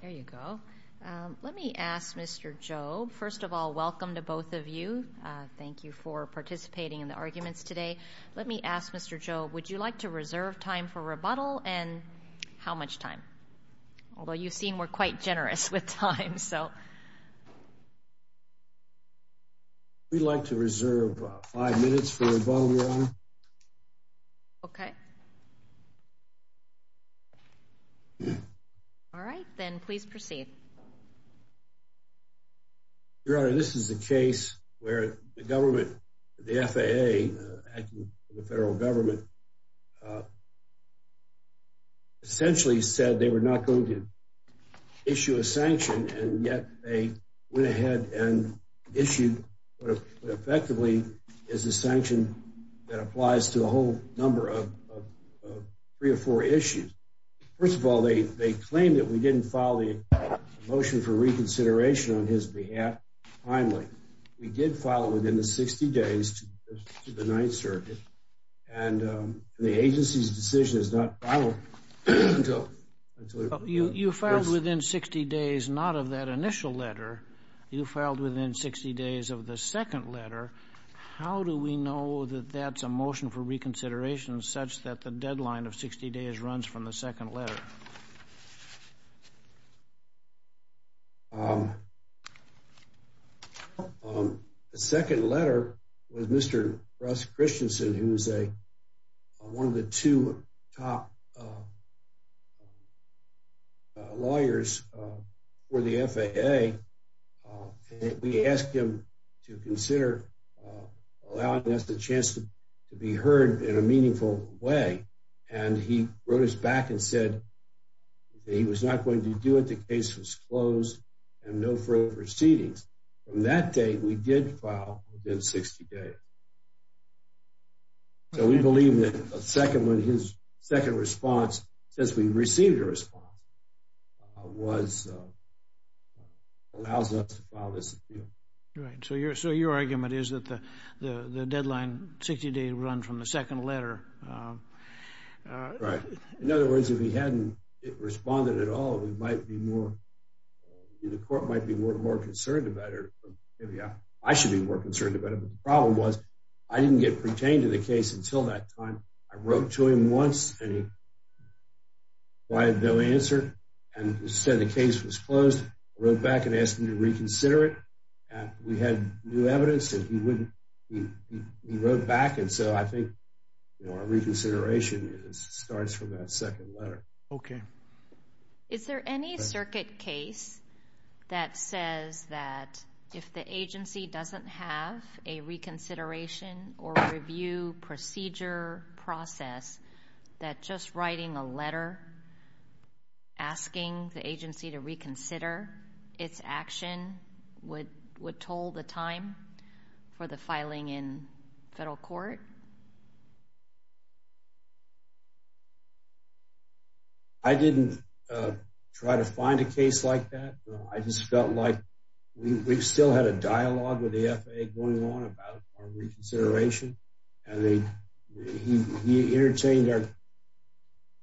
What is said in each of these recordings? There you go. Let me ask Mr. Jobe, first of all, welcome to both of you. Thank you for participating in the arguments today. Let me ask Mr. Jobe, would you like to reserve time for rebuttal and how much time? Although you've seen we're quite generous with time, so. We'd like to reserve five minutes for rebuttal, Your Honor. Okay. All right, then please proceed. Your Honor, this is a case where the government, the FAA, the federal government, essentially said they were not going to issue a sanction and yet they went ahead and issued what effectively is a sanction that applies to a whole number of three or four issues. First of all, they claim that we didn't file the motion for reconsideration on his behalf timely. We did file it within the 60 days to the Ninth Circuit, and the agency's decision is not filed until... You filed within 60 days not of that initial letter. You filed within 60 days of the second letter. How do we know that that's a motion for reconsideration such that the deadline of 60 days runs from the second letter? The second letter was Mr. Russ Christensen, who is one of the two top lawyers for the FAA. We asked him to consider allowing us the chance to be heard in a meaningful way, and he wrote us back and said he was not going to do it. The case was closed and no further proceedings. From that day, we did file within 60 days. So we believe that his second response, since we received a response, allows us to file this appeal. So your argument is that the deadline, 60 days, runs from the second letter. Right. In other words, if he hadn't responded at all, the court might be more concerned about it. I should be more concerned about it, but the problem was I didn't get pertained to the case until that time. I wrote to him once, and he had no answer. He said the case was closed. I wrote back and asked him to reconsider it. We had new evidence that he wrote back, and so I think our reconsideration starts from that second letter. Okay. Is there any circuit case that says that if the agency doesn't have a reconsideration or review procedure process, that just writing a letter asking the agency to reconsider its action would toll the time for the filing in federal court? I didn't try to find a case like that. I just felt like we still had a dialogue with the FAA going on about our reconsideration, and he entertained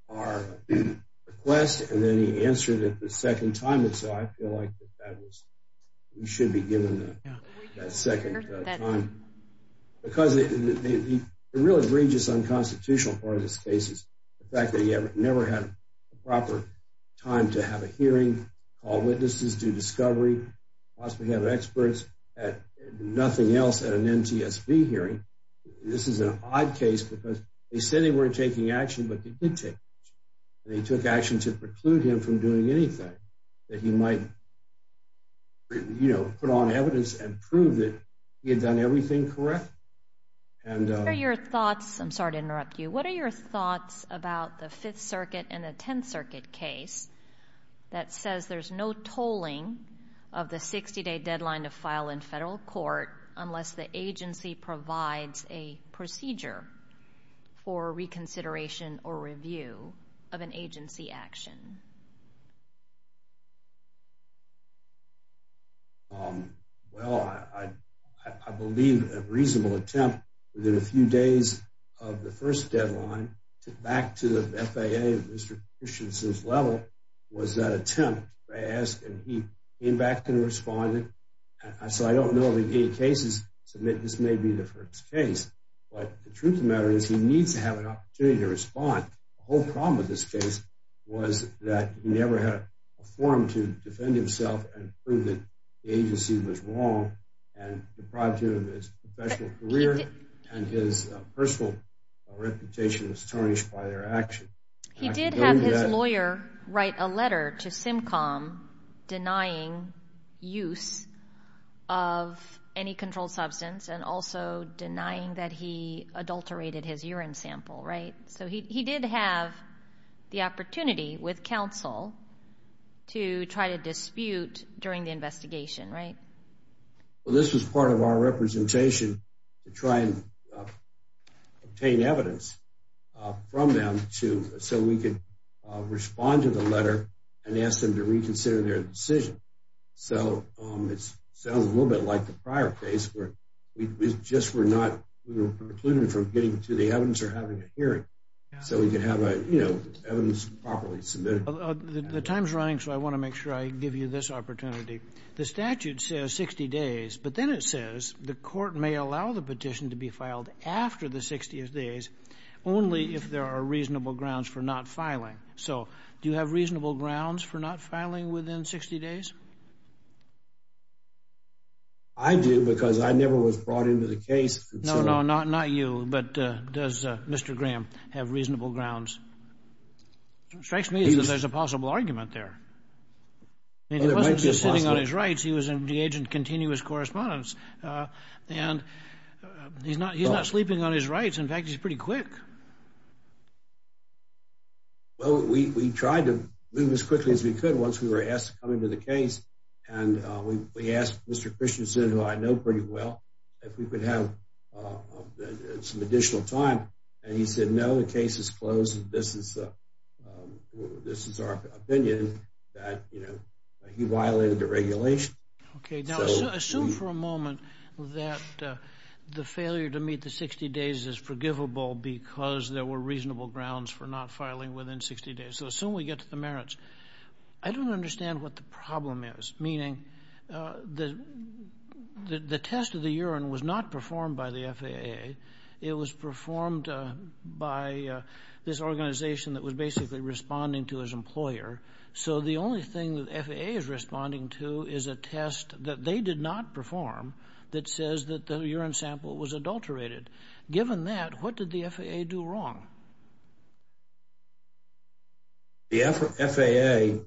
our request, and then he answered it the second time, and so I feel like we should be given that second time. Because the real egregious unconstitutional part of this case is the fact that he never had a proper time to have a hearing, call witnesses, do discovery, possibly have experts, and nothing else at an NTSB hearing. This is an odd case because they said they weren't taking action, but they did take action, and they took action to preclude him from doing anything that he might put on evidence and prove that he had done everything correct. I'm sorry to interrupt you. What are your thoughts about the Fifth Circuit and the Tenth Circuit case that says there's no tolling of the 60-day deadline to file in federal court unless the agency provides a procedure for reconsideration or review of an agency action? Well, I believe a reasonable attempt within a few days of the first deadline back to the FAA, Mr. Christianson's level, was that attempt. I asked, and he came back and responded. So I don't know of any cases to admit this may be the first case, but the truth of the matter is he needs to have an opportunity to respond. The whole problem with this case was that he never had a forum to defend himself and prove that the agency was wrong and deprived him of his professional career, and his personal reputation was tarnished by their action. He did have his lawyer write a letter to SimCom denying use of any controlled substance and also denying that he adulterated his urine sample, right? So he did have the opportunity with counsel to try to dispute during the investigation, right? Well, this was part of our representation to try and obtain evidence from them so we could respond to the letter and ask them to reconsider their decision. So it sounds a little bit like the prior case where we just were not, we were precluded from getting to the evidence or having a hearing so we could have evidence properly submitted. The time's running, so I want to make sure I give you this opportunity. The statute says 60 days, but then it says the court may allow the petition to be filed after the 60 days only if there are reasonable grounds for not filing. So do you have reasonable grounds for not filing within 60 days? I do because I never was brought into the case. No, no, not you, but does Mr. Graham have reasonable grounds? It strikes me that there's a possible argument there. I mean, he wasn't just sitting on his rights. He was in the agent continuous correspondence, and he's not sleeping on his rights. In fact, he's pretty quick. Well, we tried to move as quickly as we could once we were asked to come into the case, and we asked Mr. Christensen, who I know pretty well, if we could have some additional time, and he said, no, the case is closed. This is our opinion that he violated the regulation. Okay, now assume for a moment that the failure to meet the 60 days is forgivable because there were reasonable grounds for not filing within 60 days. So assume we get to the merits. I don't understand what the problem is, meaning the test of the urine was not performed by the FAA. It was performed by this organization that was basically responding to its employer. So the only thing that the FAA is responding to is a test that they did not perform that says that the urine sample was adulterated. Given that, what did the FAA do wrong? The FAA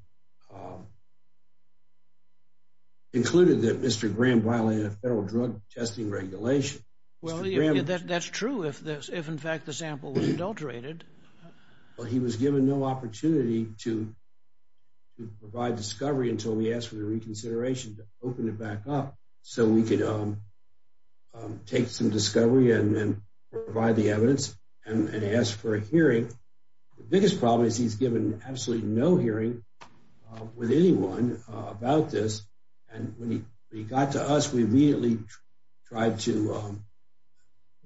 concluded that Mr. Graham violated a federal drug testing regulation. Well, that's true if, in fact, the sample was adulterated. Well, he was given no opportunity to provide discovery until we asked for the reconsideration to open it back up so we could take some discovery and provide the evidence and ask for a hearing. The biggest problem is he's given absolutely no hearing with anyone about this. And when he got to us, we immediately tried to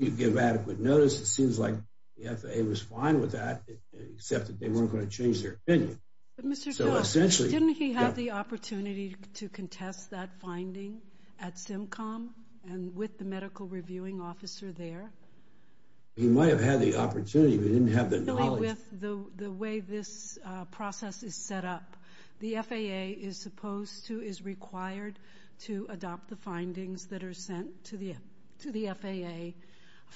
give adequate notice. It seems like the FAA was fine with that, except that they weren't going to change their opinion. But, Mr. Scott, didn't he have the opportunity to contest that finding at SimCom and with the medical reviewing officer there? He might have had the opportunity, but he didn't have the knowledge. The way this process is set up, the FAA is required to adopt the findings that are sent to the FAA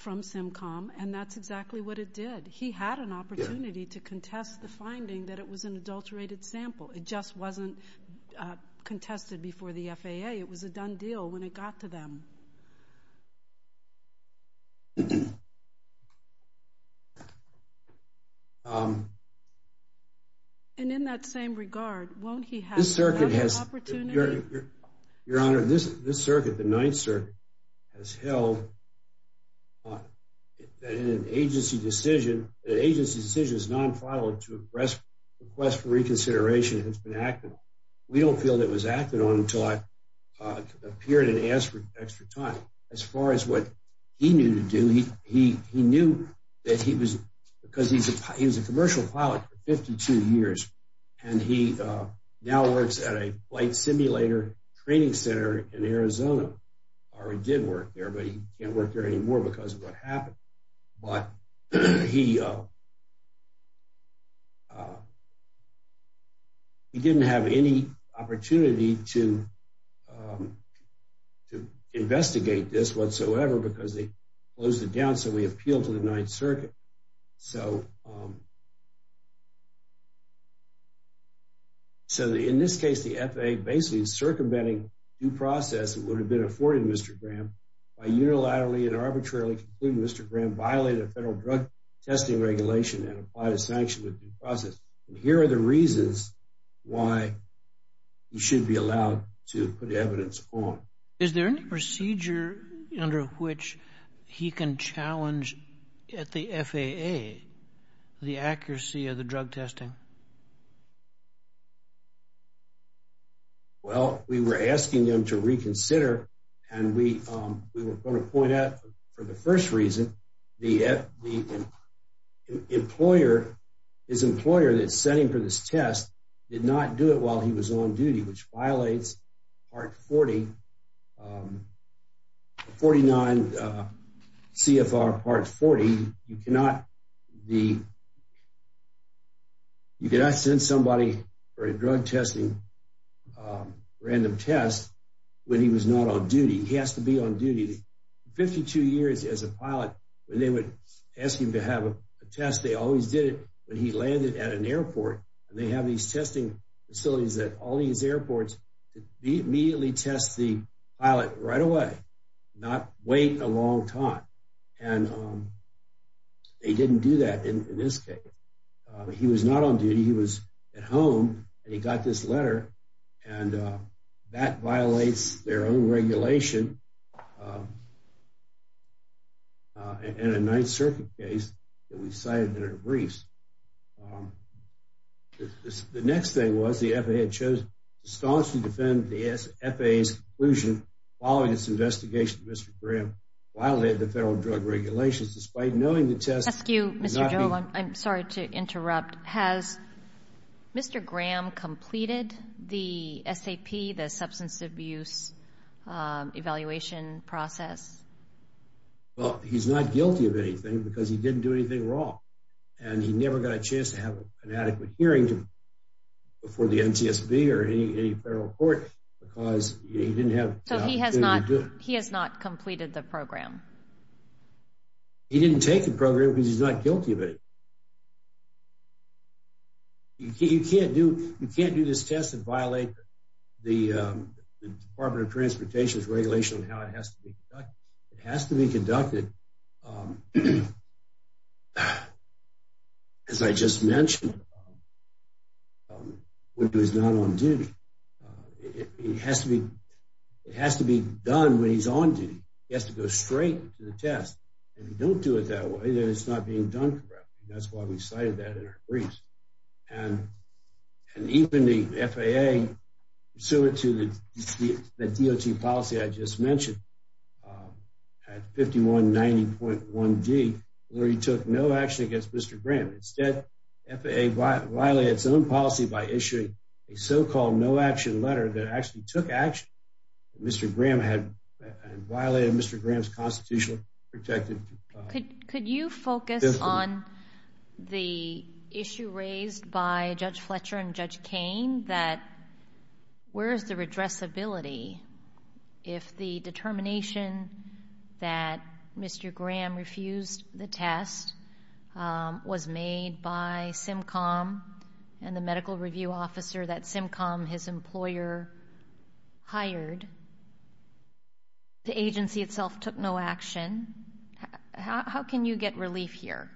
from SimCom, and that's exactly what it did. He had an opportunity to contest the finding that it was an adulterated sample. It just wasn't contested before the FAA. It was a done deal when it got to them. And in that same regard, won't he have another opportunity? Your Honor, this circuit, the Ninth Circuit, has held that an agency decision is non-final to request reconsideration has been acted on. We don't feel that it was acted on until I appeared and asked for extra time. As far as what he knew to do, he knew that he was a commercial pilot for 52 years, and he now works at a flight simulator training center in Arizona, or he did work there, but he can't work there anymore because of what happened. But he didn't have any opportunity to investigate this whatsoever because they closed it down, so we appealed to the Ninth Circuit. So in this case, the FAA basically is circumventing due process that would have been afforded Mr. Graham by unilaterally and arbitrarily concluding Mr. Graham violated federal drug testing regulation and applied a sanction with due process. And here are the reasons why he should be allowed to put evidence on. Is there any procedure under which he can challenge at the FAA the accuracy of the drug testing? Well, we were asking them to reconsider, and we were going to point out for the first reason, his employer that sent him for this test did not do it while he was on duty, which violates Part 40, 49 CFR Part 40. You cannot send somebody for a drug testing, random test, when he was not on duty. He has to be on duty. For 52 years as a pilot, when they would ask him to have a test, they always did it when he landed at an airport. And they have these testing facilities at all these airports to immediately test the pilot right away, not wait a long time. And they didn't do that in this case. He was not on duty. He was at home, and he got this letter, and that violates their own regulation in a Ninth Circuit case that we cited in our briefs. The next thing was the FAA chose to staunchly defend the FAA's conclusion following this investigation that Mr. Graham violated the federal drug regulations despite knowing the test would not be- Mr. Joe, I'm sorry to interrupt. Has Mr. Graham completed the SAP, the substance abuse evaluation process? Well, he's not guilty of anything because he didn't do anything wrong, and he never got a chance to have an adequate hearing before the NTSB or any federal court because he didn't have- So he has not completed the program? He didn't take the program because he's not guilty of it. You can't do this test and violate the Department of Transportation's regulation on how it has to be conducted. As I just mentioned, when he's not on duty, it has to be done when he's on duty. He has to go straight to the test. If you don't do it that way, then it's not being done correctly. That's why we cited that in our briefs. And even the FAA, similar to the DOT policy I just mentioned, had 5190.1d, where he took no action against Mr. Graham. Instead, FAA violated its own policy by issuing a so-called no-action letter that actually took action that Mr. Graham had and violated Mr. Graham's constitutional protected- Could you focus on the issue raised by Judge Fletcher and Judge Kain that where is the redressability if the determination that Mr. Graham refused the test was made by SimCom and the medical review officer that SimCom, his employer, hired? The agency itself took no action. How can you get relief here?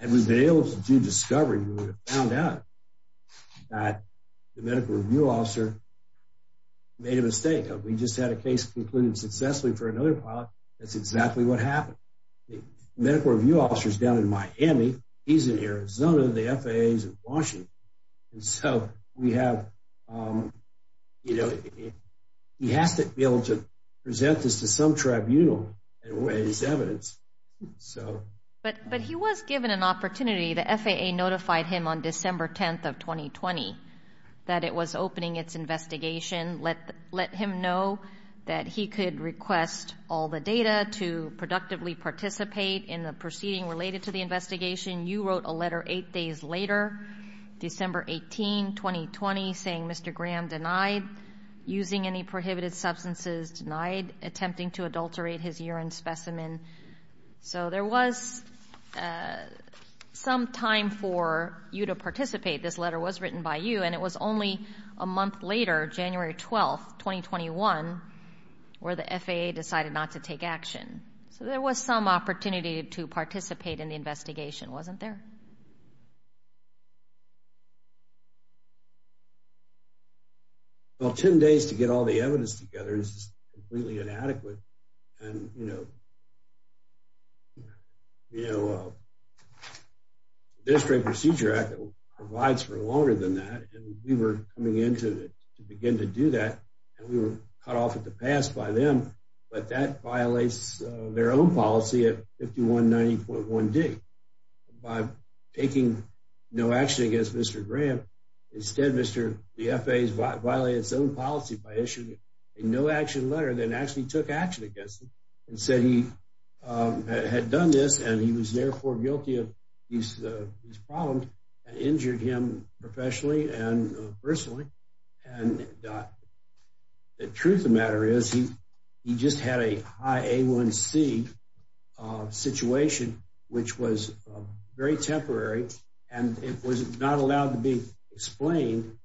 Had we been able to do discovery, we would have found out that the medical review officer made a mistake. We just had a case concluded successfully for another pilot. That's exactly what happened. The medical review officer is down in Miami. He's in Arizona. The FAA is in Washington. And so we have, you know, he has to be able to present this to some tribunal and raise evidence. But he was given an opportunity. The FAA notified him on December 10th of 2020 that it was opening its investigation, let him know that he could request all the data to productively participate in the proceeding related to the investigation. You wrote a letter eight days later, December 18, 2020, saying Mr. Graham denied using any prohibited substances, denied attempting to adulterate his urine specimen. So there was some time for you to participate. This letter was written by you. And it was only a month later, January 12, 2021, where the FAA decided not to take action. So there was some opportunity to participate in the investigation, wasn't there? Well, 10 days to get all the evidence together is completely inadequate. And, you know, the District Procedure Act provides for longer than that. And we were coming in to begin to do that. And we were cut off at the pass by them. But that violates their own policy at 5190.1D. By taking no action against Mr. Graham, instead the FAA violated its own policy by issuing a no-action letter that actually took action against him and said he had done this and he was therefore guilty of these problems and injured him professionally and personally. And the truth of the matter is he just had a high A1C situation, which was very temporary. And it was not allowed to be explained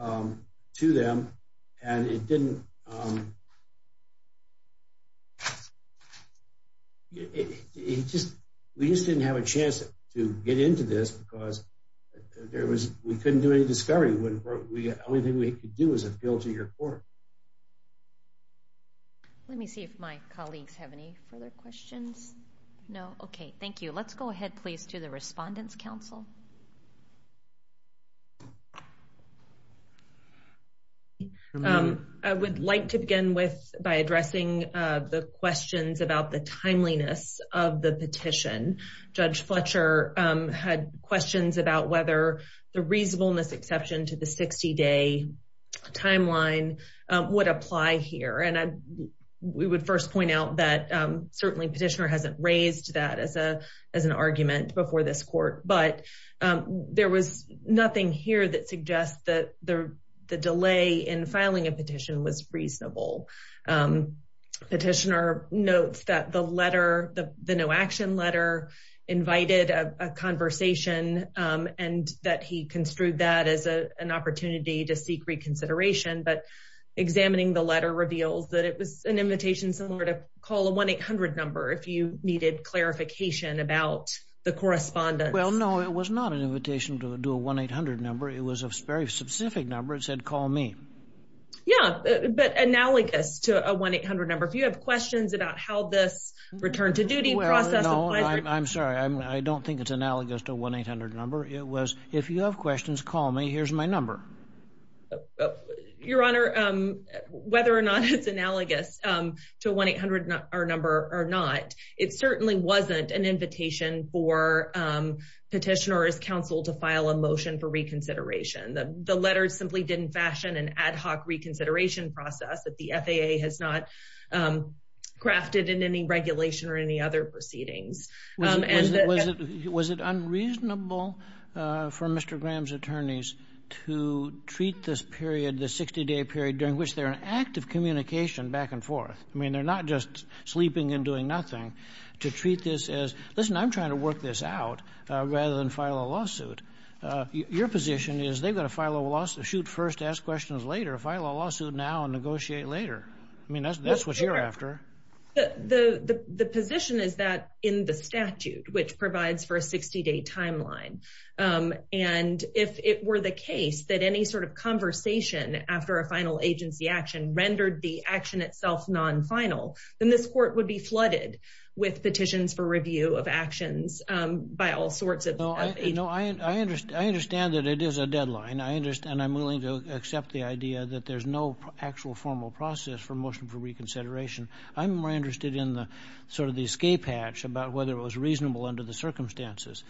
to them. And it didn't – we just didn't have a chance to get into this because we couldn't do any discovery. The only thing we could do was appeal to your court. Let me see if my colleagues have any further questions. No? Okay. Thank you. Let's go ahead, please, to the Respondents' Council. I would like to begin with by addressing the questions about the timeliness of the petition. Judge Fletcher had questions about whether the reasonableness exception to the 60-day timeline would apply here. We would first point out that certainly Petitioner hasn't raised that as an argument before this court, but there was nothing here that suggests that the delay in filing a petition was reasonable. Petitioner notes that the letter, the no-action letter, invited a conversation and that he construed that as an opportunity to seek reconsideration, but examining the letter reveals that it was an invitation somewhere to call a 1-800 number if you needed clarification about the correspondence. Well, no, it was not an invitation to do a 1-800 number. It was a very specific number. It said, call me. Yeah, but analogous to a 1-800 number. If you have questions about how this return to duty process applies – Well, no, I'm sorry. I don't think it's analogous to a 1-800 number. It was, if you have questions, call me. Here's my number. Your Honor, whether or not it's analogous to a 1-800 number or not, it certainly wasn't an invitation for Petitioner's counsel to file a motion for reconsideration. The letter simply didn't fashion an ad hoc reconsideration process that the FAA has not crafted in any regulation or any other proceedings. Was it unreasonable for Mr. Graham's attorneys to treat this period, this 60-day period during which they're in active communication back and forth – I mean, they're not just sleeping and doing nothing – to treat this as, listen, I'm trying to work this out rather than file a lawsuit. Your position is they've got to file a lawsuit. Shoot first, ask questions later. File a lawsuit now and negotiate later. I mean, that's what you're after. The position is that in the statute, which provides for a 60-day timeline, and if it were the case that any sort of conversation after a final agency action rendered the action itself non-final, then this court would be flooded with petitions for review of actions by all sorts of – No, I understand that it is a deadline, and I'm willing to accept the idea that there's no actual formal process for motion for reconsideration. I'm more interested in sort of the escape hatch about whether it was reasonable under the circumstances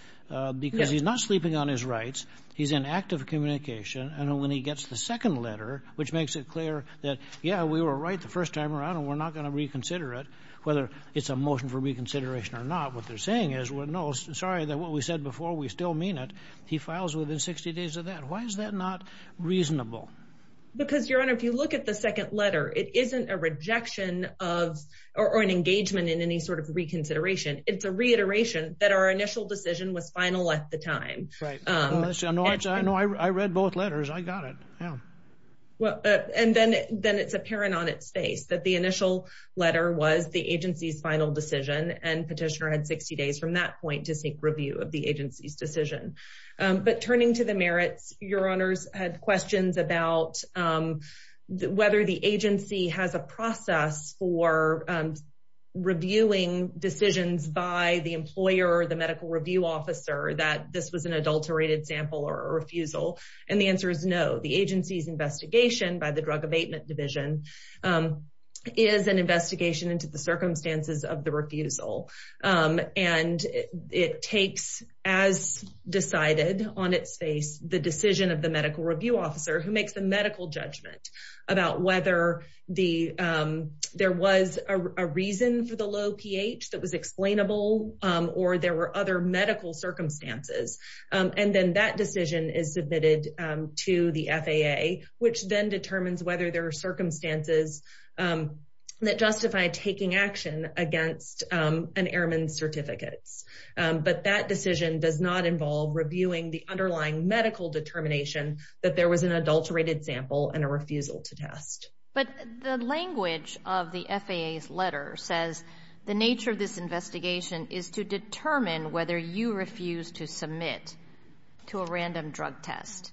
because he's not sleeping on his rights. He's in active communication, and when he gets the second letter, which makes it clear that, yeah, we were right the first time around and we're not going to reconsider it, whether it's a motion for reconsideration or not, what they're saying is, well, no, sorry, what we said before, we still mean it. He files within 60 days of that. Why is that not reasonable? Because, Your Honor, if you look at the second letter, it isn't a rejection of or an engagement in any sort of reconsideration. It's a reiteration that our initial decision was final at the time. Right. I know I read both letters. I got it. Yeah. And then it's apparent on its face that the initial letter was the agency's final decision, and petitioner had 60 days from that point to seek review of the agency's decision. But turning to the merits, Your Honors had questions about whether the agency has a process for reviewing decisions by the employer or the medical review officer that this was an adulterated sample or a refusal, and the answer is no. The agency's investigation by the Drug Abatement Division is an investigation into the circumstances of the refusal, and it takes as decided on its face the decision of the medical review officer who makes the medical judgment about whether there was a reason for the low pH that was explainable or there were other medical circumstances, and then that decision is submitted to the FAA, which then determines whether there are circumstances that justify taking action against an airman's certificates. But that decision does not involve reviewing the underlying medical determination that there was an adulterated sample and a refusal to test. But the language of the FAA's letter says the nature of this investigation is to determine whether you refuse to submit to a random drug test.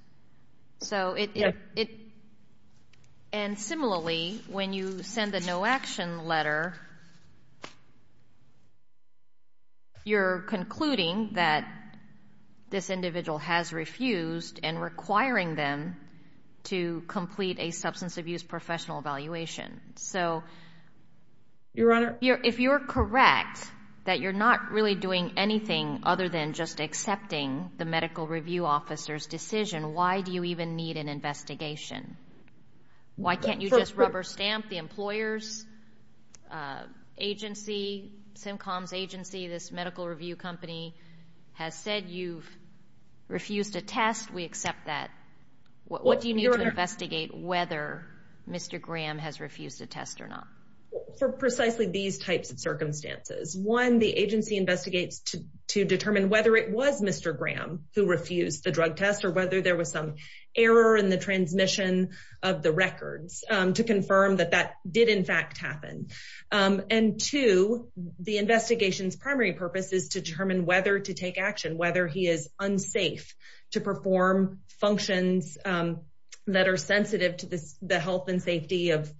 And similarly, when you send a no-action letter, you're concluding that this individual has refused and requiring them to complete a substance abuse professional evaluation. So if you're correct that you're not really doing anything other than just accepting the medical review officer's decision why do you even need an investigation? Why can't you just rubber stamp the employer's agency, SimCom's agency, this medical review company, has said you've refused a test, we accept that. What do you need to investigate whether Mr. Graham has refused a test or not? For precisely these types of circumstances, one, the agency investigates to determine whether it was Mr. Graham who refused the drug test or whether there was some error in the transmission of the records to confirm that that did in fact happen. And two, the investigation's primary purpose is to determine whether to take action, whether he is unsafe to perform functions that are sensitive to the health and safety of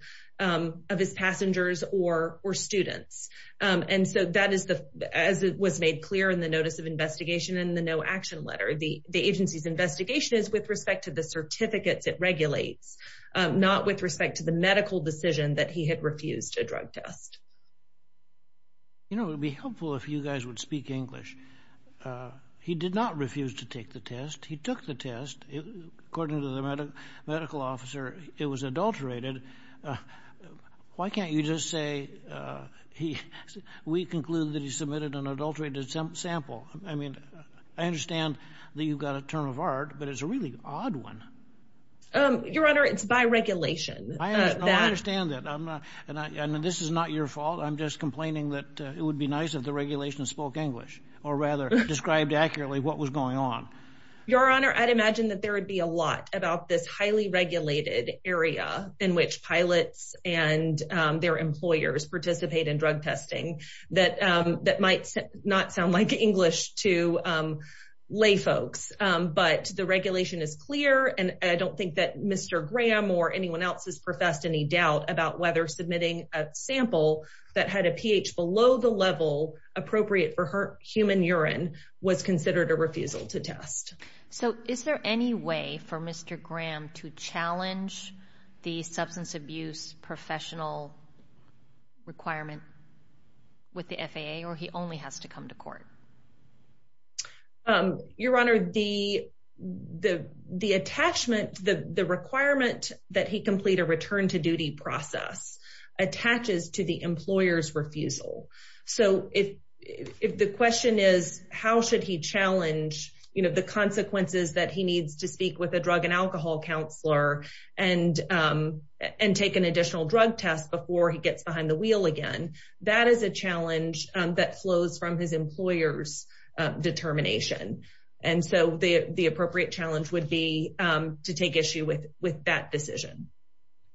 his passengers or students. And so that is, as was made clear in the notice of investigation in the no-action letter, the agency's investigation is with respect to the certificates it regulates, not with respect to the medical decision that he had refused a drug test. You know, it would be helpful if you guys would speak English. He did not refuse to take the test. He took the test. According to the medical officer, it was adulterated. Why can't you just say we conclude that he submitted an adulterated sample? I mean, I understand that you've got a term of art, but it's a really odd one. Your Honor, it's by regulation. I understand that. And this is not your fault. I'm just complaining that it would be nice if the regulation spoke English or rather described accurately what was going on. Your Honor, I'd imagine that there would be a lot about this highly regulated area in which pilots and their employers participate in drug testing that that might not sound like English to lay folks. But the regulation is clear, and I don't think that Mr. Graham or anyone else has professed any doubt about whether submitting a sample that had a pH below the level appropriate for human urine was considered a refusal to test. So is there any way for Mr. Graham to challenge the substance abuse professional requirement with the FAA or he only has to come to court? Your Honor, the requirement that he complete a return to duty process attaches to the employer's refusal. So if the question is how should he challenge the consequences that he needs to speak with a drug and alcohol counselor and take an additional drug test before he gets behind the wheel again, that is a challenge that flows from his employer's determination. And so the appropriate challenge would be to take issue with that decision.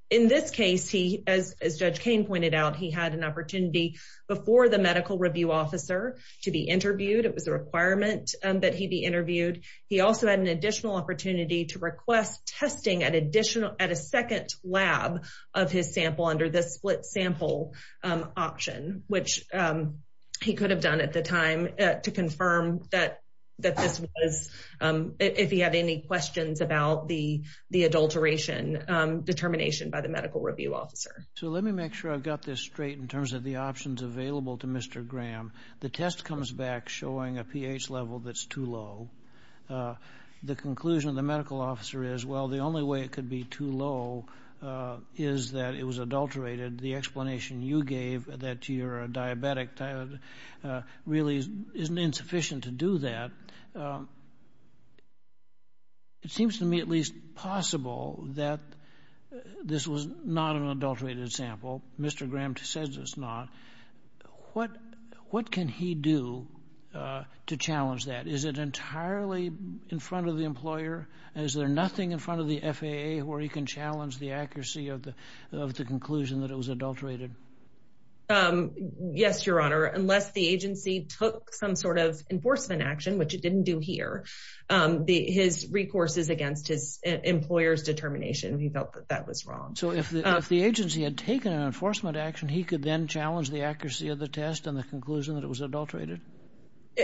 In this case, as Judge Cain pointed out, he had an opportunity before the medical review officer to be interviewed. It was a requirement that he be interviewed. He also had an additional opportunity to request testing at additional at a second lab of his sample under this split sample option, which he could have done at the time to confirm that that this was if he had any questions about the adulteration determination by the medical review officer. So let me make sure I've got this straight in terms of the options available to Mr. Graham. The test comes back showing a pH level that's too low. The conclusion of the medical officer is, well, the only way it could be too low is that it was adulterated. The explanation you gave that you're a diabetic really isn't insufficient to do that. It seems to me at least possible that this was not an adulterated sample. Mr. Graham says it's not. What can he do to challenge that? Is it entirely in front of the employer? Is there nothing in front of the FAA where he can challenge the accuracy of the conclusion that it was adulterated? Yes, Your Honor. Unless the agency took some sort of enforcement action, which it didn't do here, his recourse is against his employer's determination. He felt that that was wrong. So if the agency had taken an enforcement action, he could then challenge the accuracy of the test and the conclusion that it was adulterated.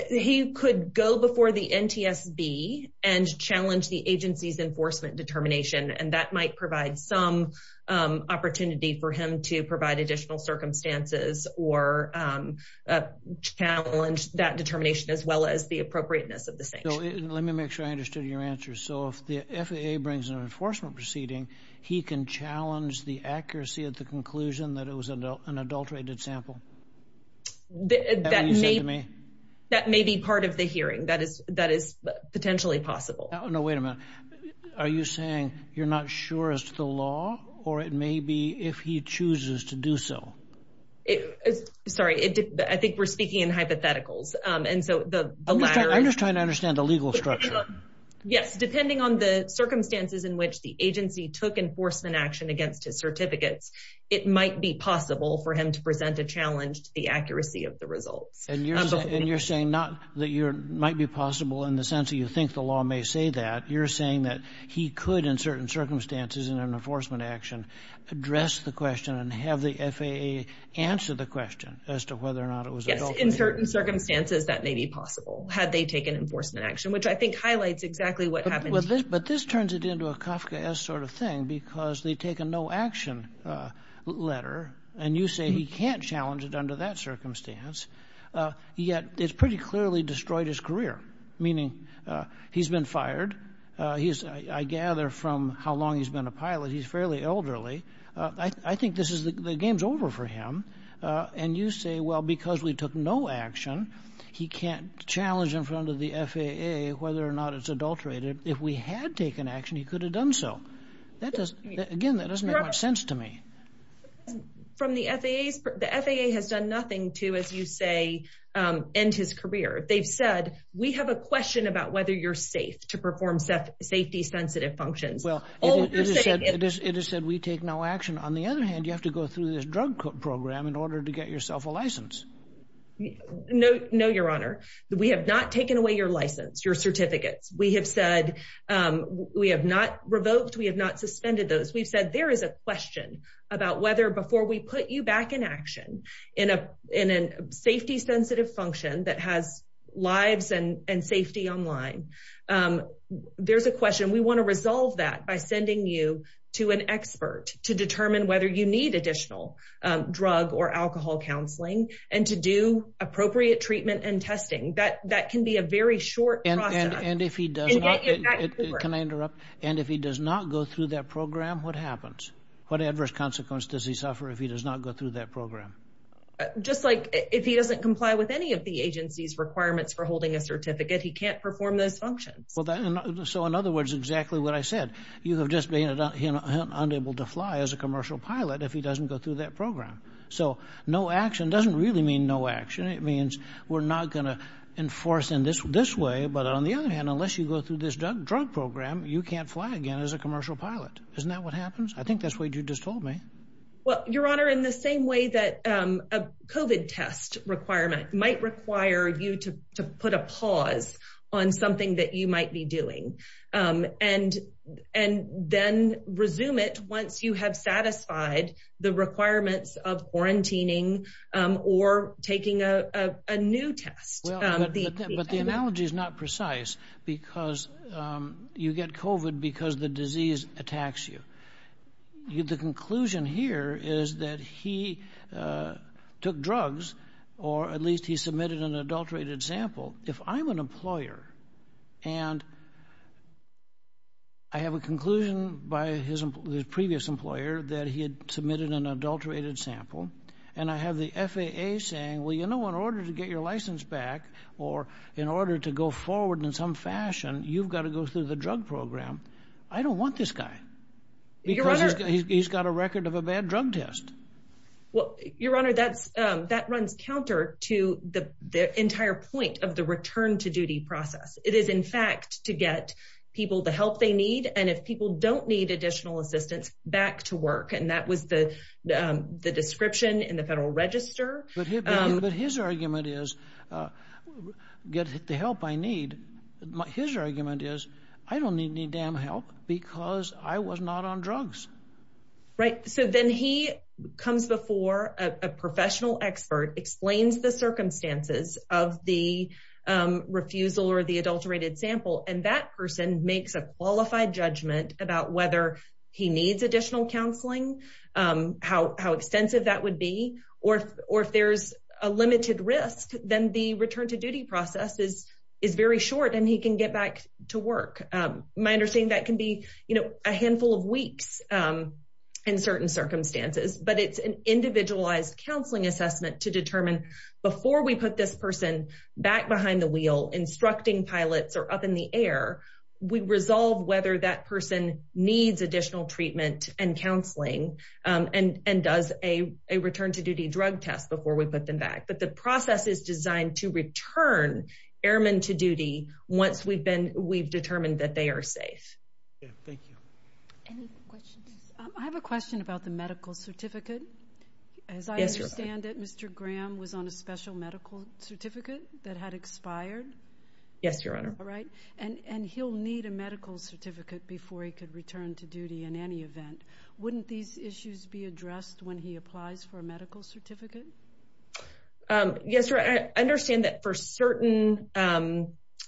He could go before the NTSB and challenge the agency's enforcement determination. And that might provide some opportunity for him to provide additional circumstances or challenge that determination as well as the appropriateness of the sanction. Let me make sure I understood your answer. So if the FAA brings an enforcement proceeding, he can challenge the accuracy of the conclusion that it was an adulterated sample? That may be part of the hearing. That is potentially possible. No, wait a minute. Are you saying you're not sure it's the law or it may be if he chooses to do so? Sorry, I think we're speaking in hypotheticals. I'm just trying to understand the legal structure. Yes, depending on the circumstances in which the agency took enforcement action against his certificates, it might be possible for him to present a challenge to the accuracy of the results. And you're saying not that it might be possible in the sense that you think the law may say that. You're saying that he could, in certain circumstances in an enforcement action, address the question and have the FAA answer the question as to whether or not it was an adulteration? Yes, in certain circumstances that may be possible had they taken enforcement action, which I think highlights exactly what happened. But this turns it into a Kafkaesque sort of thing because they take a no action letter and you say he can't challenge it under that circumstance, yet it's pretty clearly destroyed his career, meaning he's been fired. I gather from how long he's been a pilot, he's fairly elderly. I think the game's over for him. And you say, well, because we took no action, he can't challenge in front of the FAA whether or not it's adulterated. If we had taken action, he could have done so. Again, that doesn't make much sense to me. The FAA has done nothing to, as you say, end his career. They've said, we have a question about whether you're safe to perform safety-sensitive functions. Well, it is said we take no action. On the other hand, you have to go through this drug program in order to get yourself a license. No, Your Honor, we have not taken away your license, your certificates. We have said we have not revoked, we have not suspended those. We've said there is a question about whether before we put you back in action in a safety-sensitive function that has lives and safety online, there's a question. We want to resolve that by sending you to an expert to determine whether you need additional drug or alcohol counseling and to do appropriate treatment and testing. That can be a very short process. And if he does not go through that program, what happens? What adverse consequences does he suffer if he does not go through that program? Just like if he doesn't comply with any of the agency's requirements for holding a certificate, he can't perform those functions. So in other words, exactly what I said, you have just been unable to fly as a commercial pilot if he doesn't go through that program. So no action doesn't really mean no action. It means we're not going to enforce in this way. But on the other hand, unless you go through this drug program, you can't fly again as a commercial pilot. Isn't that what happens? I think that's what you just told me. Well, Your Honor, in the same way that a covid test requirement might require you to put a pause on something that you might be doing and and then resume it once you have satisfied the requirements of quarantining or taking a new test. But the analogy is not precise because you get covid because the disease attacks you. The conclusion here is that he took drugs or at least he submitted an adulterated sample. If I'm an employer and I have a conclusion by his previous employer that he had submitted an adulterated sample and I have the FAA saying, well, you know, in order to get your license back or in order to go forward in some fashion, you've got to go through the drug program. I don't want this guy because he's got a record of a bad drug test. Well, Your Honor, that's that runs counter to the entire point of the return to duty process. It is, in fact, to get people the help they need. And if people don't need additional assistance back to work, and that was the the description in the Federal Register. But his argument is get the help I need. His argument is I don't need any damn help because I was not on drugs. Right. So then he comes before a professional expert, explains the circumstances of the refusal or the adulterated sample. And that person makes a qualified judgment about whether he needs additional counseling, how extensive that would be, or if there's a limited risk, then the return to duty process is very short and he can get back to work. My understanding that can be, you know, a handful of weeks in certain circumstances, but it's an individualized counseling assessment to determine before we put this person back behind the wheel instructing pilots or up in the air. We resolve whether that person needs additional treatment and counseling and does a return to duty drug test before we put them back. But the process is designed to return airmen to duty once we've been we've determined that they are safe. Thank you. I have a question about the medical certificate. As I understand it, Mr. Graham was on a special medical certificate that had expired. Yes, your honor. Right. And he'll need a medical certificate before he could return to duty in any event. Wouldn't these issues be addressed when he applies for a medical certificate? Yes, sir. I understand that for certain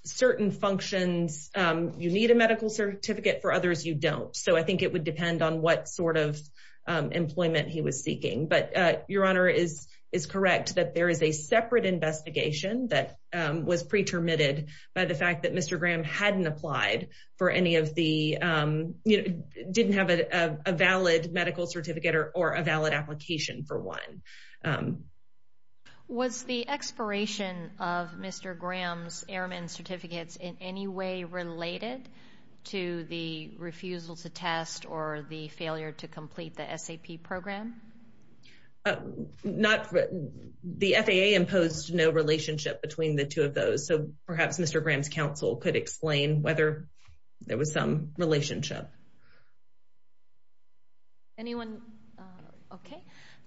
certain functions, you need a medical certificate. For others, you don't. So I think it would depend on what sort of employment he was seeking. But your honor is is correct that there is a separate investigation that was pretermitted by the fact that Mr. Graham hadn't applied for any of the didn't have a valid medical certificate or a valid application for one. Was the expiration of Mr. Graham's airmen certificates in any way related to the refusal to test or the failure to complete the S.A.P. program? Not the FAA imposed no relationship between the two of those. So perhaps Mr. Graham's counsel could explain whether there was some relationship. Anyone. OK,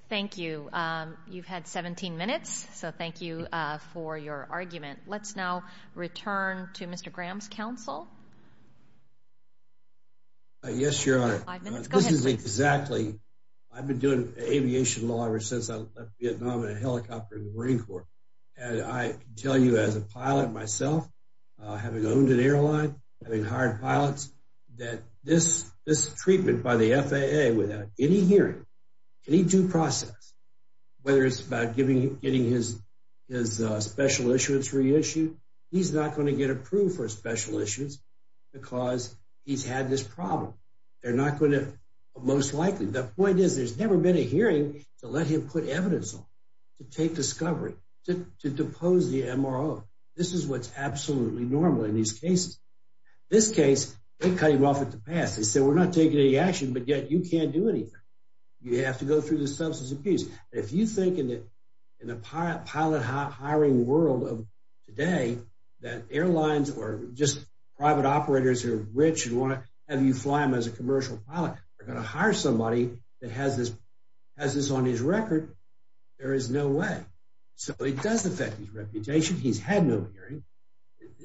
thank you. You've had 17 minutes, so thank you for your argument. Let's now return to Mr. Graham's counsel. Yes, your honor. This is exactly. I've been doing aviation law ever since I left Vietnam in a helicopter in the Marine Corps. And I tell you, as a pilot myself, having owned an airline, having hired pilots that this this treatment by the FAA without any hearing any due process, whether it's about giving getting his his special issuance reissued. He's not going to get approved for special issues because he's had this problem. They're not going to most likely. The point is, there's never been a hearing to let him put evidence to take discovery to depose the MRO. This is what's absolutely normal in these cases. This case, they cut him off at the pass. They said, we're not taking any action, but yet you can't do anything. You have to go through the substance abuse. If you think in the pilot hiring world of today that airlines or just private operators are rich and want to have you fly them as a commercial pilot, they're going to hire somebody that has this has this on his record. There is no way. So it does affect his reputation. He's had no hearing.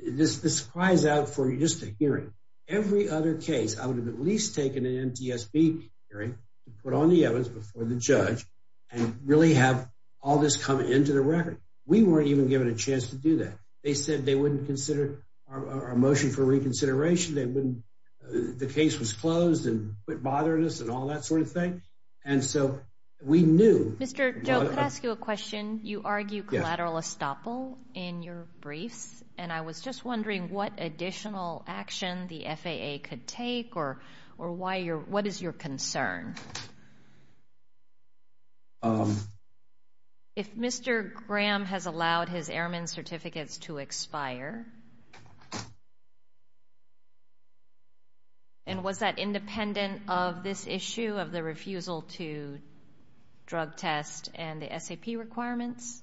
This this cries out for just a hearing. Every other case, I would have at least taken an NTSB hearing to put on the evidence before the judge and really have all this come into the record. We weren't even given a chance to do that. They said they wouldn't consider our motion for reconsideration. They wouldn't. The case was closed and bothered us and all that sort of thing. And so we knew. Mr. Joe, could I ask you a question? You argue collateral estoppel in your briefs. And I was just wondering what additional action the FAA could take or or why you're what is your concern? If Mr. Graham has allowed his airman certificates to expire. And was that independent of this issue of the refusal to drug test and the S.A.P. requirements?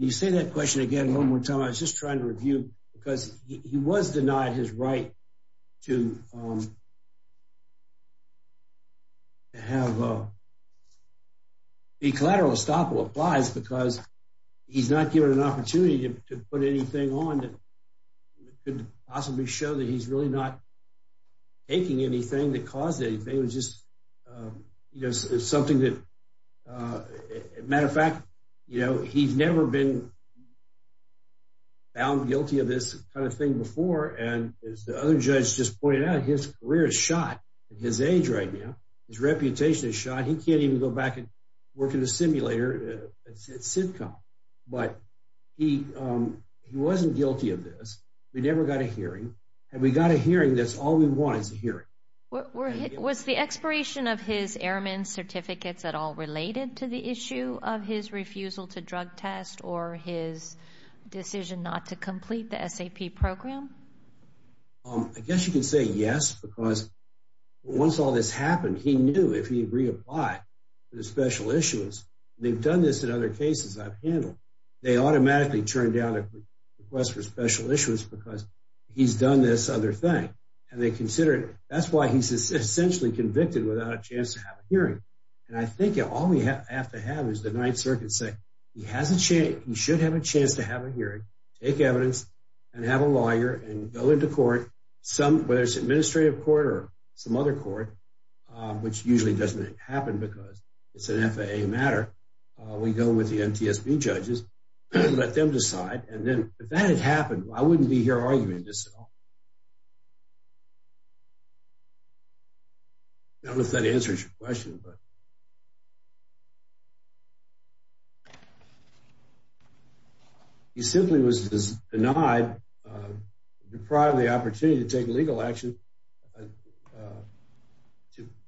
You say that question again one more time. I was just trying to review because he was denied his right to have a collateral estoppel applies because he's not given an opportunity to put anything on that could possibly show that he's really not taking anything that caused it. You know, it's something that matter of fact, you know, he's never been found guilty of this kind of thing before. And as the other judge just pointed out, his career is shot at his age right now. His reputation is shot. He can't even go back and work in a simulator sitcom. But he he wasn't guilty of this. We never got a hearing. And we got a hearing. That's all we want is a hearing. Was the expiration of his airman certificates at all related to the issue of his refusal to drug test or his decision not to complete the S.A.P. program? I guess you can say yes, because once all this happened, he knew if he reapplied to the special issues, they've done this in other cases I've handled. They automatically turned down a request for special issues because he's done this other thing. And they consider it. That's why he's essentially convicted without a chance to have a hearing. And I think all we have to have is the Ninth Circuit say he has a chance. He should have a chance to have a hearing, take evidence and have a lawyer and go into court. Some whether it's administrative court or some other court, which usually doesn't happen because it's an FAA matter. We go with the NTSB judges, let them decide. And then if that had happened, I wouldn't be here arguing this at all. I don't know if that answers your question, but. He simply was denied the opportunity to take legal action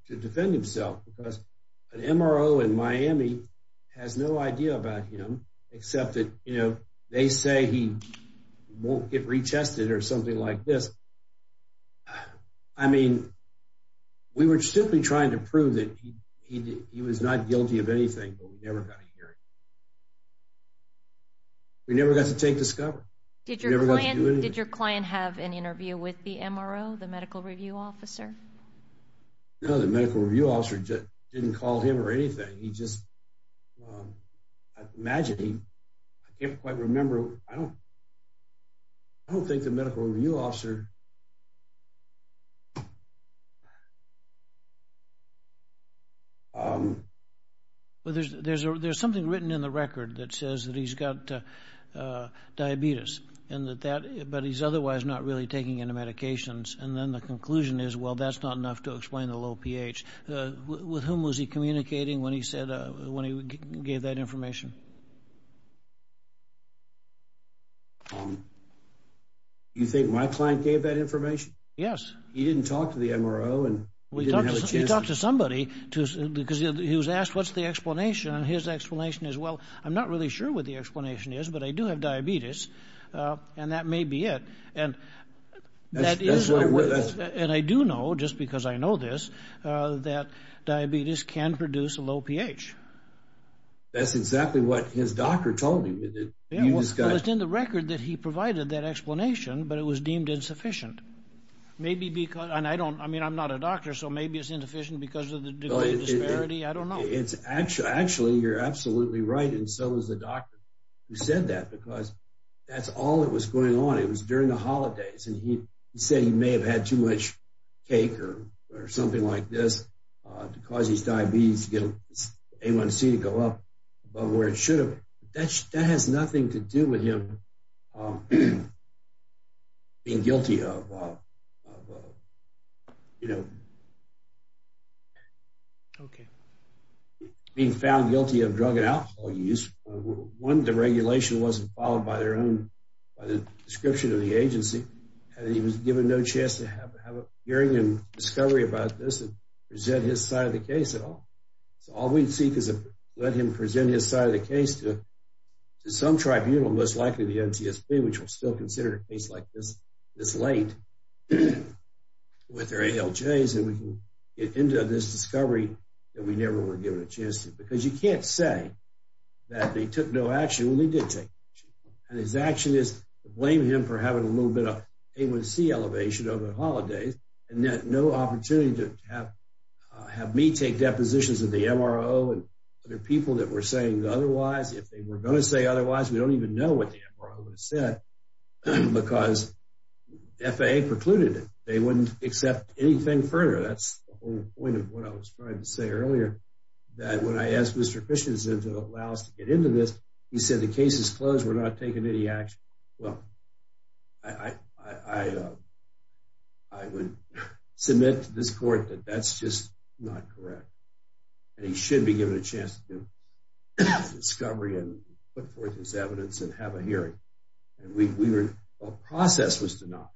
to defend himself because an MRO in Miami has no idea about him. Except that they say he won't get retested or something like this. I mean, we were simply trying to prove that he was not guilty of anything, but we never got a hearing. We never got to take discovery. Did your client have an interview with the MRO, the medical review officer? No, the medical review officer didn't call him or anything. He just imagined him. I can't quite remember. I don't think the medical review officer. Well, there's something written in the record that says that he's got diabetes, but he's otherwise not really taking any medications. And then the conclusion is, well, that's not enough to explain the low pH. With whom was he communicating when he said when he gave that information? You think my client gave that information? Yes. He didn't talk to the MRO and we talked to somebody because he was asked, what's the explanation? And his explanation is, well, I'm not really sure what the explanation is, but I do have diabetes and that may be it. And I do know, just because I know this, that diabetes can produce a low pH. That's exactly what his doctor told him. Well, it's in the record that he provided that explanation, but it was deemed insufficient. I mean, I'm not a doctor, so maybe it's insufficient because of the degree of disparity. I don't know. Actually, you're absolutely right, and so is the doctor who said that, because that's all that was going on. It was during the holidays, and he said he may have had too much cake or something like this to cause his diabetes to get his A1C to go up above where it should have. That has nothing to do with him being found guilty of drug and alcohol use. One, the regulation wasn't followed by the description of the agency, and he was given no chance to have a hearing and discovery about this and present his side of the case at all. So all we'd seek is to let him present his side of the case to some tribunal, most likely the NTSB, which will still consider a case like this this late with their ALJs, and we can get into this discovery that we never were given a chance to. Because you can't say that they took no action when they did take action, and his action is to blame him for having a little bit of A1C elevation over the holidays and no opportunity to have me take depositions at the MRO and other people that were saying otherwise. If they were going to say otherwise, we don't even know what the MRO would have said because FAA precluded it. They wouldn't accept anything further. That's the whole point of what I was trying to say earlier, that when I asked Mr. Christiansen to allow us to get into this, he said the case is closed. We're not taking any action. Well, I would submit to this court that that's just not correct, and he should be given a chance to do discovery and put forth his evidence and have a hearing. Our process was to not.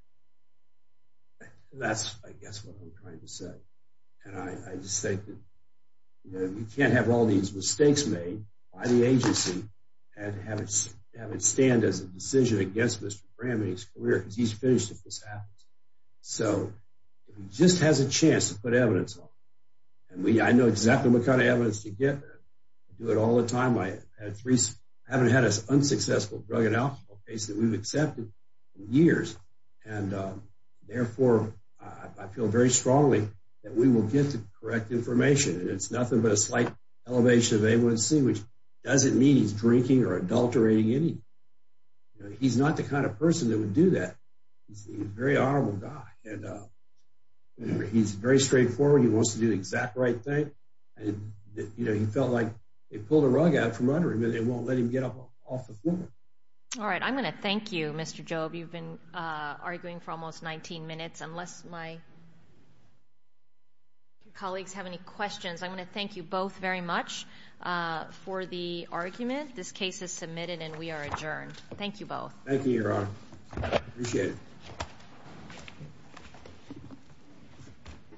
That's, I guess, what I'm trying to say, and I just think that we can't have all these mistakes made by the agency and have it stand as a decision against Mr. Bramley's career because he's finished if this happens. So if he just has a chance to put evidence on, and I know exactly what kind of evidence to get. I do it all the time. I haven't had an unsuccessful drug and alcohol case that we've accepted in years, and therefore, I feel very strongly that we will get the correct information, and it's nothing but a slight elevation of A1C, which doesn't mean he's drinking or adulterating anything. He's not the kind of person that would do that. He's a very honorable guy, and he's very straightforward. He wants to do the exact right thing, and he felt like they pulled a rug out from under him, and they won't let him get off the floor. All right. I'm going to thank you, Mr. Jobe. You've been arguing for almost 19 minutes, unless my colleagues have any questions. I'm going to thank you both very much for the argument. This case is submitted, and we are adjourned. Thank you both. Thank you, Your Honor. Appreciate it.